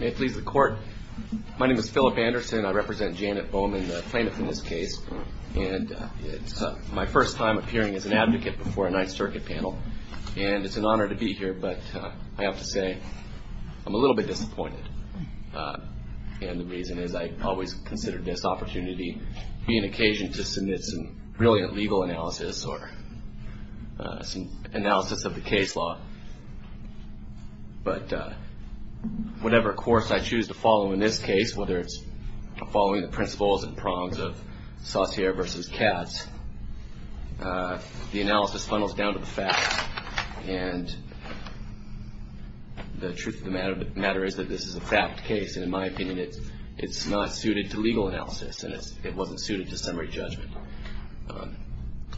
May it please the court. My name is Philip Anderson. I represent Janet Bowman, the plaintiff in this case, and it's my first time appearing as an advocate before a Ninth Circuit panel, and it's an honor to be here, but I have to say I'm a little bit disappointed. And the reason is I always considered this opportunity to be an occasion to submit some brilliant legal analysis or some analysis of the case law. But whatever course I choose to follow in this case, whether it's following the principles and prongs of Saussure v. Katz, the analysis funnels down to the facts, and the truth of the matter is that this is a fact case, and in my opinion, it's not suited to legal analysis, and it wasn't suited to summary judgment.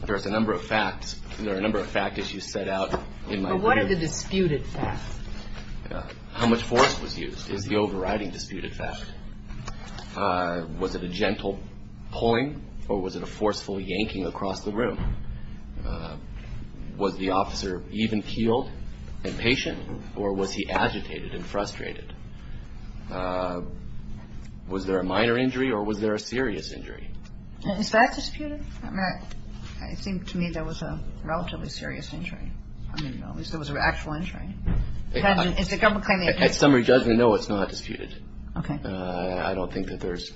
There's a number of facts. There are a number of fact issues set out in my opinion. But what are the disputed facts? How much force was used is the overriding disputed fact. Was it a gentle pulling, or was it a forceful yanking across the room? Was the officer even keeled and patient, or was he agitated and frustrated? Was there a minor injury, or was there a serious injury? Is that disputed? I mean, it seemed to me there was a relatively serious injury. I mean, at least there was an actual injury. Is the government claiming it's disputed? At summary judgment, no, it's not disputed. Okay. I don't think that there's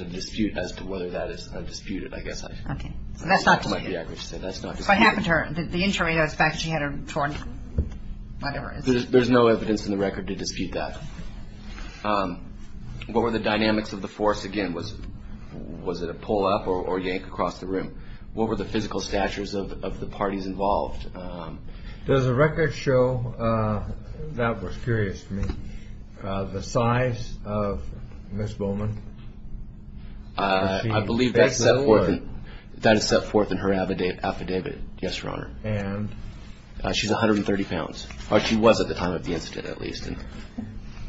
a dispute as to whether that is disputed, I guess. Okay. So that's not disputed. That's not disputed. What happened to her? The injury, I suspect she had her torn, whatever. There's no evidence in the record to dispute that. What were the dynamics of the force again? Was it a pull-up or yank across the room? What were the physical statures of the parties involved? Does the record show, that was curious to me, the size of Ms. Bowman? I believe that is set forth in her affidavit, yes, Your Honor. And? She's 130 pounds, or she was at the time of the incident, at least.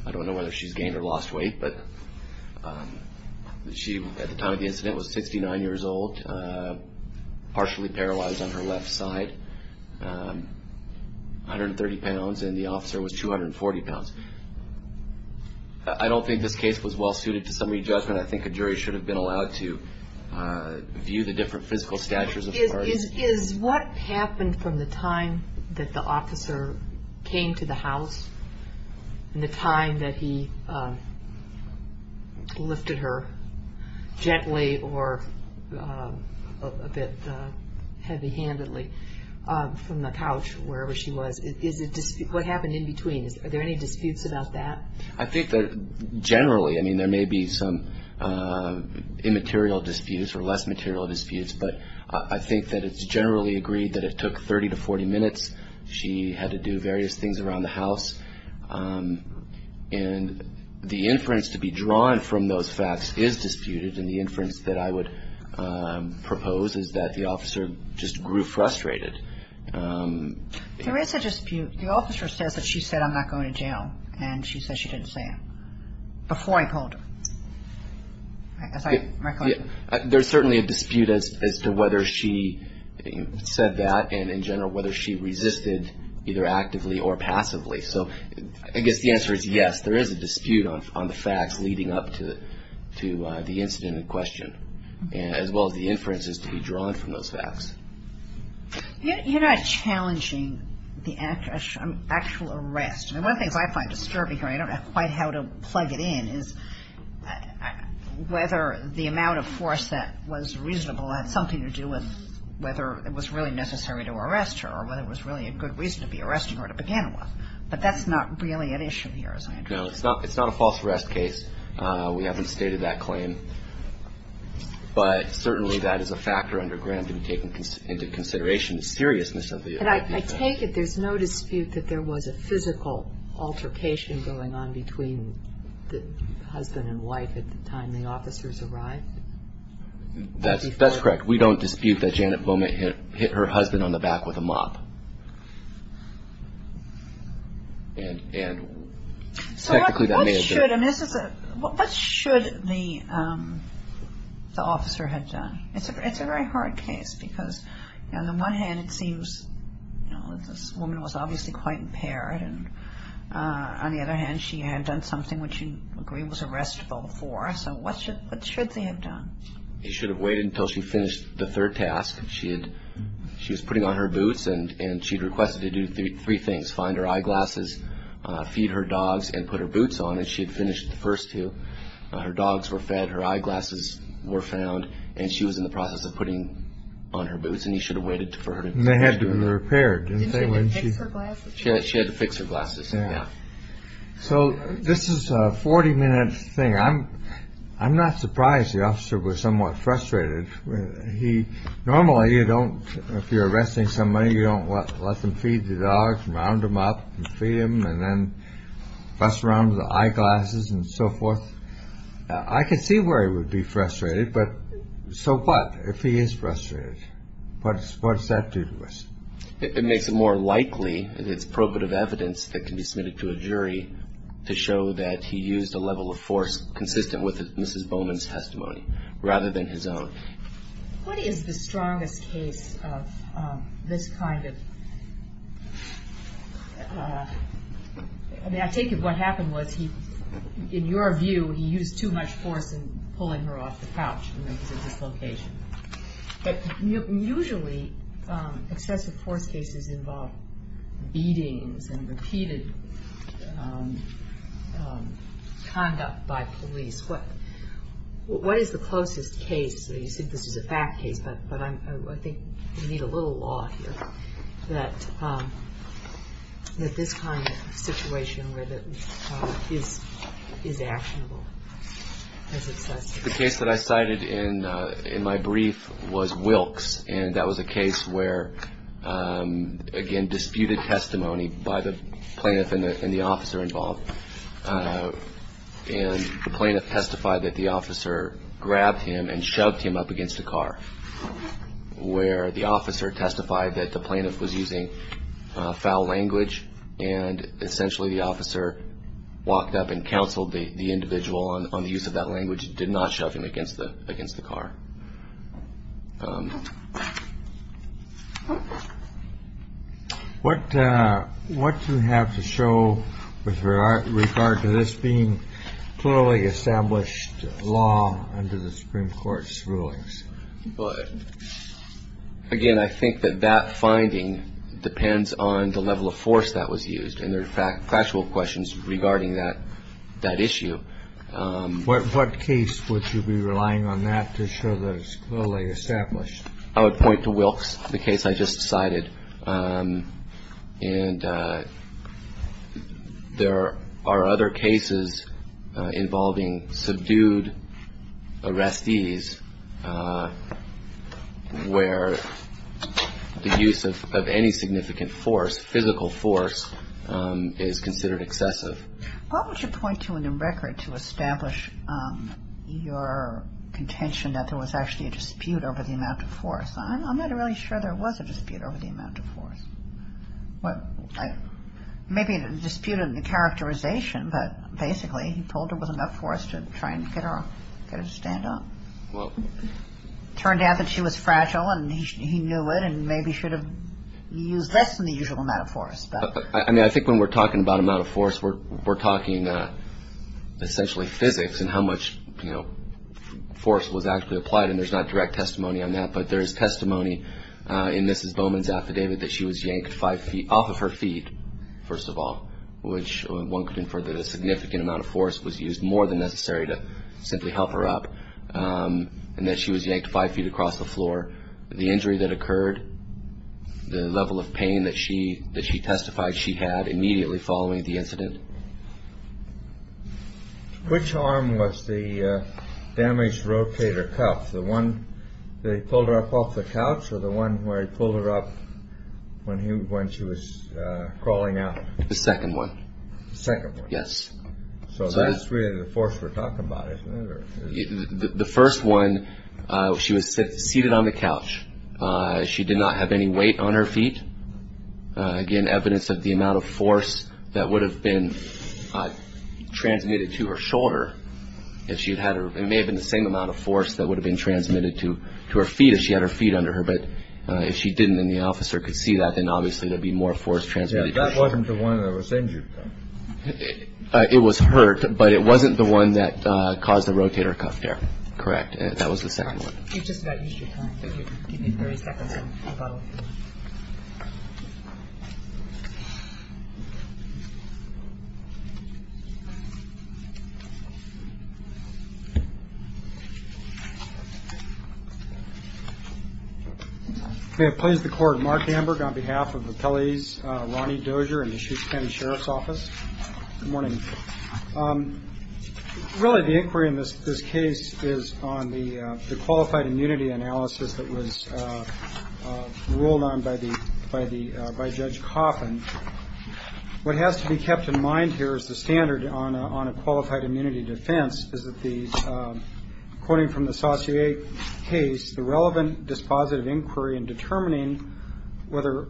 I don't know whether she's gained or lost weight, but she, at the time of the incident, was 69 years old, partially paralyzed on her left side, 130 pounds, and the officer was 240 pounds. I don't think this case was well-suited to summary judgment. I think a jury should have been allowed to view the different physical statures of parties. Is what happened from the time that the officer came to the house and the time that he lifted her gently or a bit heavy-handedly from the couch, wherever she was, what happened in between? Are there any disputes about that? I think that generally, I mean, there may be some immaterial disputes or less material disputes, but I think that it's generally agreed that it took 30 to 40 minutes. She had to do various things around the house, and the inference to be drawn from those facts is disputed, and the inference that I would propose is that the officer just grew frustrated. There is a dispute. The officer says that she said, I'm not going to jail, and she says she didn't say it before I pulled her. There's certainly a dispute as to whether she said that, and in general, whether she resisted either actively or passively. So I guess the answer is yes, there is a dispute on the facts leading up to the incident in question, as well as the inferences to be drawn from those facts. You're not challenging the actual arrest. And one of the things I find disturbing here, I don't know quite how to plug it in, is whether the amount of force that was reasonable had something to do with whether it was really necessary to arrest her or whether it was really a good reason to be arresting her to begin with. But that's not really an issue here, as I understand it. No, it's not a false arrest case. We haven't stated that claim, but certainly that is a factor under ground to be taken into consideration, the seriousness of the event. I take it there's no dispute that there was a physical altercation going on between the husband and wife at the time the officers arrived? That's correct. We don't dispute that Janet Bowman hit her husband on the back with a mop. And technically that may have been. So what should the officer have done? It's a very hard case because on the one hand it seems this woman was obviously quite impaired, and on the other hand she had done something which you agree was arrestable before. So what should they have done? They should have waited until she finished the third task. She was putting on her boots and she had requested to do three things, find her eyeglasses, feed her dogs and put her boots on, and she had finished the first two. Her dogs were fed, her eyeglasses were found, and she was in the process of putting on her boots and he should have waited for her to be repaired. She had to fix her glasses. So this is a 40 minute thing. I'm I'm not surprised the officer was somewhat frustrated. He normally you don't if you're arresting somebody, you don't let them feed the dogs, round them up and feed them and then bust around with the eyeglasses and so forth. I could see where he would be frustrated. But so what if he is frustrated? But what does that do to us? It makes it more likely and it's probative evidence that can be submitted to a jury to show that he used a level of force consistent with Mrs. Bowman's testimony rather than his own. What is the strongest case of this kind of I mean I take it what happened was he, in your view, he used too much force in pulling her off the couch when he was in this location. But usually excessive force cases involve beatings and repeated conduct by police. What is the closest case? You said this is a fact case. But I think we need a little law here that this kind of situation is actionable. The case that I cited in my brief was Wilkes. And that was a case where, again, disputed testimony by the plaintiff and the officer involved. And the plaintiff testified that the officer grabbed him and shoved him up against the car, where the officer testified that the plaintiff was using foul language. And essentially, the officer walked up and counseled the individual on the use of that language, did not shove him against the against the car. What what do you have to show with regard to this being clearly established law under the Supreme Court's rulings? But again, I think that that finding depends on the level of force that was used. And there are factual questions regarding that that issue. What case would you be relying on that to show that it's clearly established? I would point to Wilkes, the case I just cited. And there are other cases involving subdued arrestees where the use of any significant force, physical force, is considered excessive. What would you point to in the record to establish your contention that there was actually a dispute over the amount of force? I'm not really sure there was a dispute over the amount of force. Maybe a dispute in the characterization. But basically, he told her it was enough force to try and get her to stand up. Well, it turned out that she was fragile and he knew it and maybe should have used less than the usual amount of force. I mean, I think when we're talking about amount of force, we're talking essentially physics and how much force was actually applied. And there's not direct testimony on that. But there is testimony in Mrs. Bowman's affidavit that she was yanked five feet off of her feet, first of all, which one could infer that a significant amount of force was used more than necessary to simply help her up, and that she was yanked five feet across the floor. The injury that occurred, the level of pain that she testified she had immediately following the incident. Which arm was the damaged rotator cuff, the one that he pulled her up off the couch or the one where he pulled her up when she was crawling out? The second one. The second one. Yes. So that's really the force we're talking about, isn't it? The first one, she was seated on the couch. She did not have any weight on her feet. Again, evidence of the amount of force that would have been transmitted to her shoulder. It may have been the same amount of force that would have been transmitted to her feet if she had her feet under her. But if she didn't and the officer could see that, then obviously there'd be more force transmitted. That wasn't the one that was injured. It was hurt, but it wasn't the one that caused the rotator cuff tear. Correct. That was the second one. You're just about used your time. You need 30 seconds to follow. Thank you. May it please the Court, Mark Hamburg on behalf of the appellees, Ronnie Dozier and the Chichester County Sheriff's Office. Good morning. Really, the inquiry in this case is on the qualified immunity analysis that was ruled on by the by the by Judge Coffin. What has to be kept in mind here is the standard on a qualified immunity defense is that the according from the associate case, the relevant dispositive inquiry in determining whether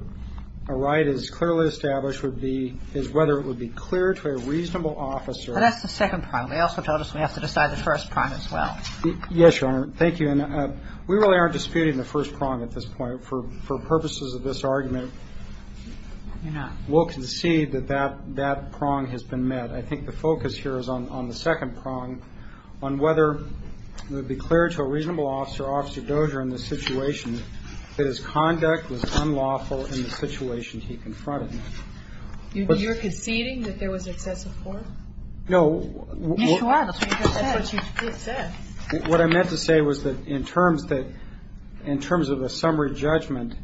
a right is clearly established would be, is whether it would be clear to a reasonable officer. That's the second part. We also told us we have to decide the first part as well. Yes, Your Honor. Thank you. And we really aren't disputing the first prong at this point for purposes of this argument. We'll concede that that that prong has been met. I think the focus here is on the second prong on whether it would be clear to a reasonable officer, Officer Dozier, in the situation that his conduct was unlawful in the situation he confronted me. You're conceding that there was excessive force? No. Yes, you are. That's what you just said. That's what you just said. What I meant to say was that in terms of a summary judgment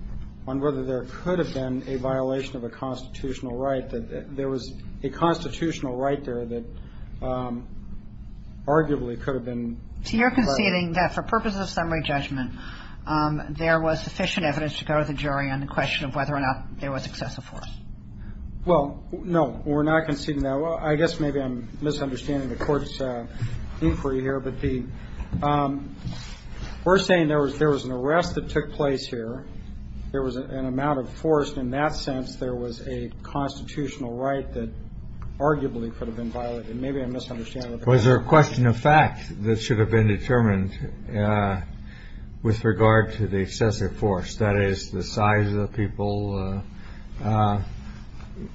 on whether there could have been a violation of a constitutional right, that there was a constitutional right there that arguably could have been violated. So you're conceding that for purposes of summary judgment, there was sufficient evidence to go to the jury on the question of whether or not there was excessive force? Well, no. We're not conceding that. I guess maybe I'm misunderstanding the Court's inquiry here. But the we're saying there was an arrest that took place here. There was an amount of force. In that sense, there was a constitutional right that arguably could have been violated. Maybe I'm misunderstanding. Was there a question of fact that should have been determined with regard to the excessive force, that is, the size of the people?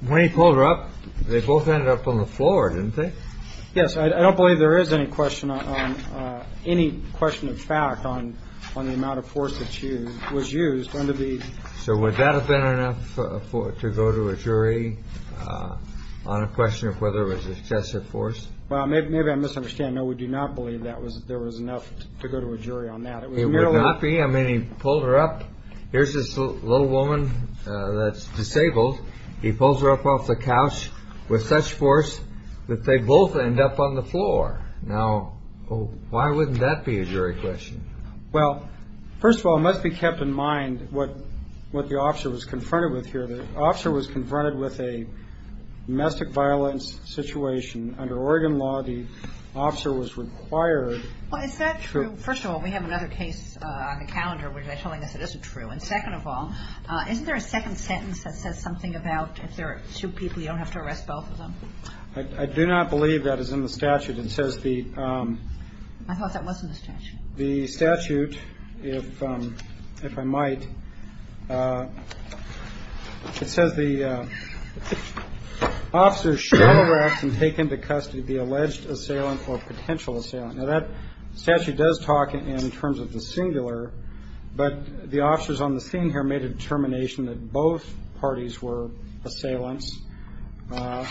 When he pulled her up, they both ended up on the floor, didn't they? Yes. I don't believe there is any question on any question of fact on the amount of force that was used. So would that have been enough to go to a jury on a question of whether it was excessive force? Well, maybe I'm misunderstanding. No, we do not believe there was enough to go to a jury on that. It would not be. I mean, he pulled her up. Here's this little woman that's disabled. He pulls her up off the couch with such force that they both end up on the floor. Now, why wouldn't that be a jury question? Well, first of all, it must be kept in mind what the officer was confronted with here. The officer was confronted with a domestic violence situation. Under Oregon law, the officer was required. Well, is that true? First of all, we have another case on the calendar where they're telling us it isn't true. And second of all, isn't there a second sentence that says something about if there are two people, you don't have to arrest both of them? I do not believe that is in the statute. It says the – I thought that was in the statute. The statute, if I might, it says the officer shall arrest and take into custody the alleged assailant or potential assailant. Now, that statute does talk in terms of the singular. But the officers on the scene here made a determination that both parties were assailants. He got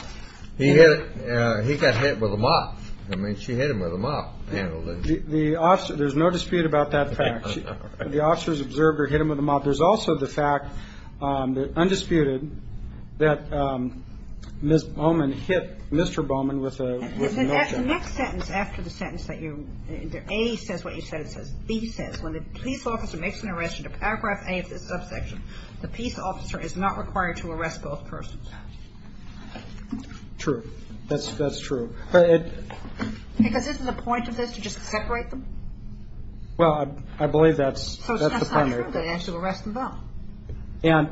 hit with a mop. I mean, she hit him with a mop. The officer – there's no dispute about that fact. The officers observed her hit him with a mop. There's also the fact, undisputed, that Ms. Bowman hit Mr. Bowman with a mop. The next sentence after the sentence that you – A says what you said it says. B says when the police officer makes an arrest under paragraph A of this subsection, the peace officer is not required to arrest both persons. True. That's true. But it – Because isn't the point of this to just separate them? Well, I believe that's the point. So it's not true that they actually arrest them both. And,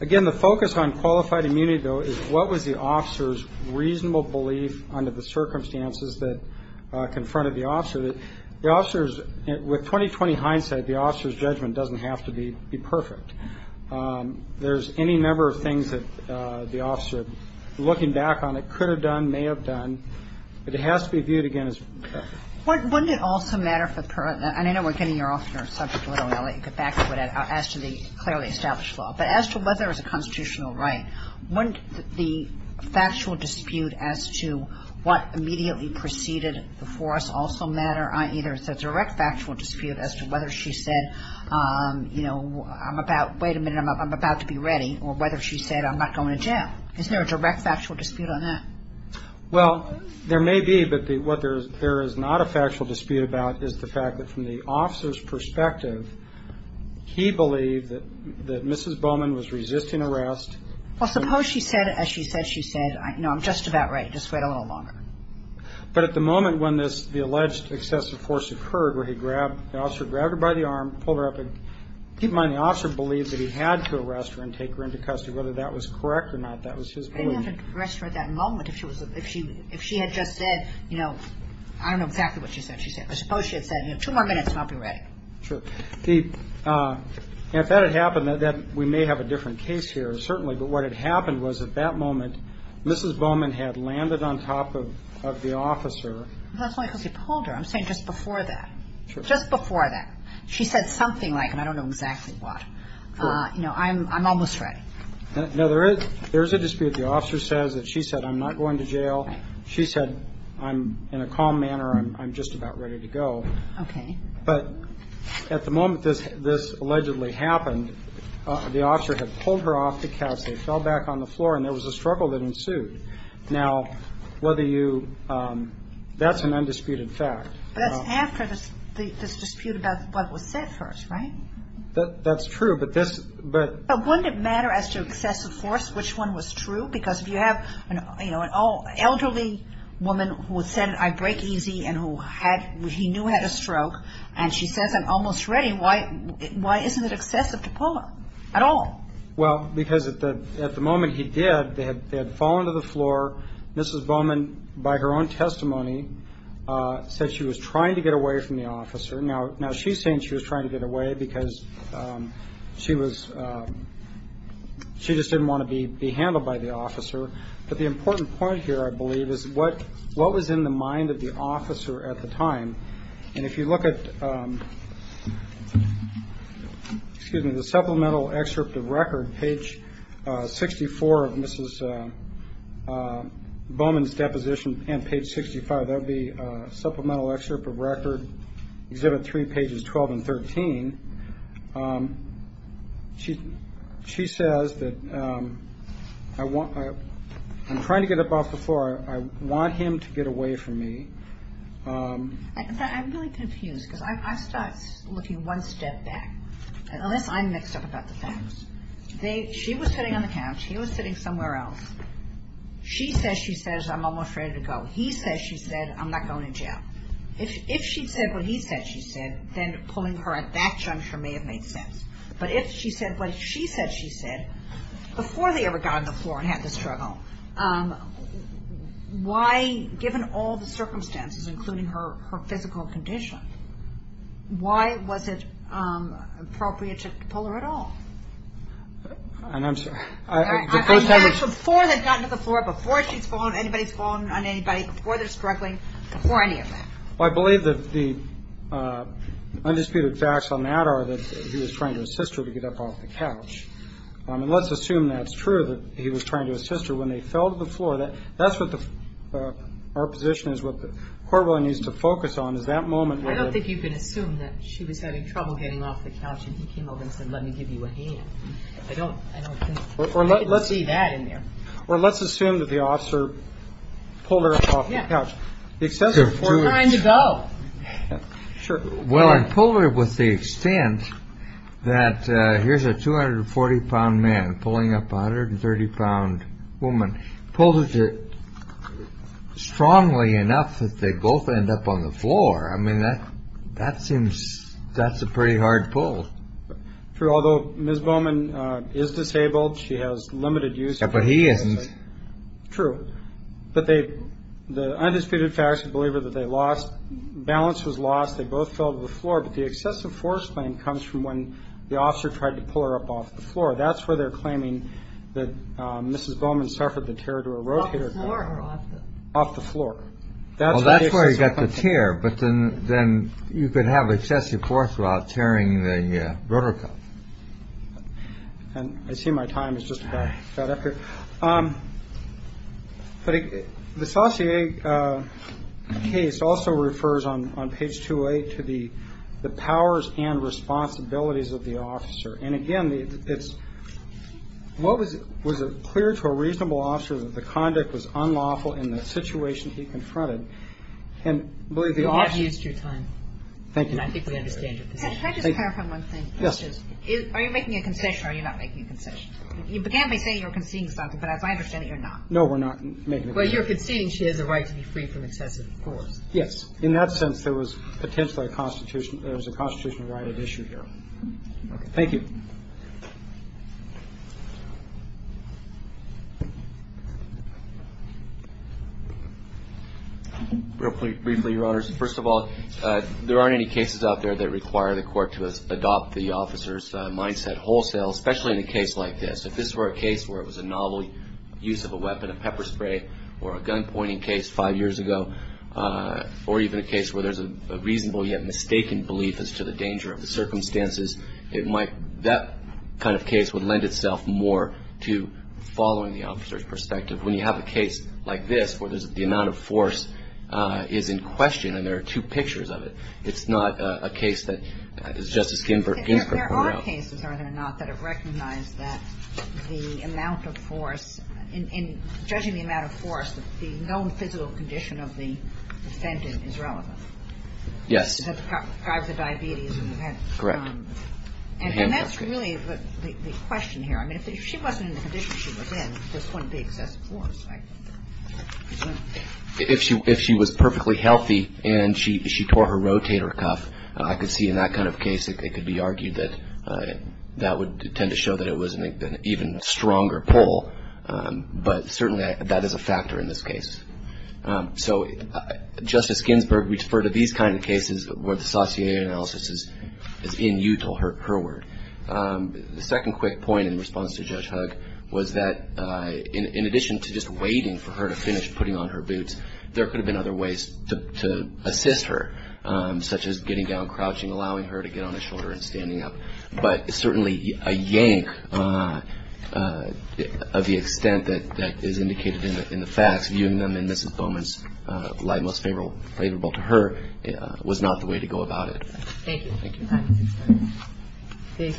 again, the focus on qualified immunity, though, is what was the officer's reasonable belief under the circumstances that confronted the officer. The officer's – with 20-20 hindsight, the officer's judgment doesn't have to be perfect. There's any number of things that the officer, looking back on it, could have done, may have done. But it has to be viewed, again, as perfect. Wouldn't it also matter for – and I know we're getting off your subject a little, and I'll let you get back to it, as to the clearly established law. But as to whether it was a constitutional right, wouldn't the factual dispute as to what immediately preceded the force also matter? Either it's a direct factual dispute as to whether she said, you know, I'm about – wait a minute, I'm about to be ready. Or whether she said, I'm not going to jail. Isn't there a direct factual dispute on that? Well, there may be. But what there is not a factual dispute about is the fact that from the officer's perspective, he believed that Mrs. Bowman was resisting arrest. Well, suppose she said – as she said, she said, you know, I'm just about right. Just wait a little longer. But at the moment when this – the alleged excessive force occurred, where he grabbed – the officer grabbed her by the arm, pulled her up and – keep in mind, the officer believed that he had to arrest her and take her into custody. Whether that was correct or not, that was his belief. But he didn't have to arrest her at that moment if she was – if she had just said, you know, I don't know exactly what she said. She said – or suppose she had said, you know, two more minutes and I'll be ready. Sure. If that had happened, we may have a different case here, certainly. But what had happened was at that moment, Mrs. Bowman had landed on top of the officer. That's not because he pulled her. I'm saying just before that. Sure. Just before that. She said something like, I don't know exactly what. Sure. You know, I'm almost ready. No, there is – there is a dispute. The officer says that she said, I'm not going to jail. She said, I'm – in a calm manner, I'm just about ready to go. Okay. But at the moment this allegedly happened, the officer had pulled her off the couch. They fell back on the floor and there was a struggle that ensued. Now, whether you – that's an undisputed fact. But that's after this dispute about what was said first, right? That's true. But this – but – But wouldn't it matter as to excessive force which one was true? Because if you have, you know, an elderly woman who said, I break easy and who had – he knew had a stroke and she says, I'm almost ready, why isn't it excessive to pull her at all? Well, because at the moment he did, they had fallen to the floor. Mrs. Bowman, by her own testimony, said she was trying to get away from the officer. Now, she's saying she was trying to get away because she was – she just didn't want to be handled by the officer. But the important point here, I believe, is what was in the mind of the officer at the time? And if you look at – excuse me – the supplemental excerpt of record, page 64 of Mrs. Bowman's deposition and page 65, that would be supplemental excerpt of record, exhibit 3, pages 12 and 13. She says that I want – I'm trying to get up off the floor. I want him to get away from me. I'm really confused because I start looking one step back. Unless I'm mixed up about the facts. She was sitting on the couch. He was sitting somewhere else. She says she says, I'm almost ready to go. He says she said, I'm not going to jail. If she said what he said she said, then pulling her at that juncture may have made sense. But if she said what she said she said, before they ever got on the floor and had the struggle, why, given all the circumstances, including her physical condition, why was it appropriate to pull her at all? And I'm sorry. Before they've gotten to the floor, before she's fallen, anybody's fallen on anybody, before they're struggling, before any of that. I believe that the undisputed facts on that are that he was trying to assist her to get up off the couch. And let's assume that's true, that he was trying to assist her when they fell to the floor. That's what the – our position is what the court really needs to focus on is that moment. I don't think you can assume that she was having trouble getting off the couch and he came over and said, let me give you a hand. I don't – I don't think you can see that in there. Well, let's assume that the officer pulled her up off the couch. Yeah. Before trying to go. Sure. Well, and pulled her with the extent that here's a 240-pound man pulling up a 130-pound woman. Pulled her strongly enough that they both end up on the floor. I mean, that seems – that's a pretty hard pull. True. Although Ms. Bowman is disabled. She has limited use. Yeah, but he isn't. True. But they – the undisputed facts believe her that they lost – balance was lost. They both fell to the floor. But the excessive force claim comes from when the officer tried to pull her up off the floor. That's where they're claiming that Mrs. Bowman suffered the tear to her rotator cuff. Off the floor or off the – Off the floor. Well, that's where he got the tear. But then you could have excessive force without tearing the rotator cuff. And I see my time is just about up here. But the Saussure case also refers on page 28 to the powers and responsibilities of the officer. And again, it's – was it clear to a reasonable officer that the conduct was unlawful in the situation he confronted? And I believe the officer – You have used your time. Thank you. And I think we understand your position. Can I just clarify one thing? Yes. Are you making a concession or are you not making a concession? You began by saying you were conceding something, but as I understand it, you're not. No, we're not making a concession. Well, you're conceding she has a right to be free from excessive force. Yes. In that sense, there was potentially a constitutional – there was a constitutional right at issue here. Okay. Thank you. Briefly, Your Honors, first of all, there aren't any cases out there that require the court to adopt the officer's mindset wholesale, especially in a case like this. If this were a case where it was a novel use of a weapon, a pepper spray, or a gunpointing case five years ago, or even a case where there's a reasonable yet mistaken belief as to the danger of the circumstances, it might – that kind of case would lend itself more to following the officer's perspective. When you have a case like this where there's – the amount of force is in question and there are two pictures of it, it's not a case that, as Justice Ginsburg – There are cases, are there not, that have recognized that the amount of force – in judging the amount of force, the known physical condition of the defendant is relevant? Yes. To drive the diabetes of the defendant. Correct. And that's really the question here. I mean, if she wasn't in the condition she was in, this wouldn't be excessive force, right? If she was perfectly healthy and she tore her rotator cuff, I could see in that kind of case it could be argued that that would tend to show that it was an even stronger pull. But certainly that is a factor in this case. So Justice Ginsburg, we've heard of these kind of cases where the sauté analysis is inutile, her word. The second quick point in response to Judge Hugg was that in addition to just waiting for her to finish putting on her boots, there could have been other ways to assist her, such as getting down, crouching, allowing her to get on her shoulder and standing up. But certainly a yank of the extent that is indicated in the facts, viewing them in Mrs. Bowman's light most favorable to her, was not the way to go about it. Thank you. Thank you. Thank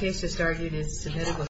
you, Justice Ginsburg.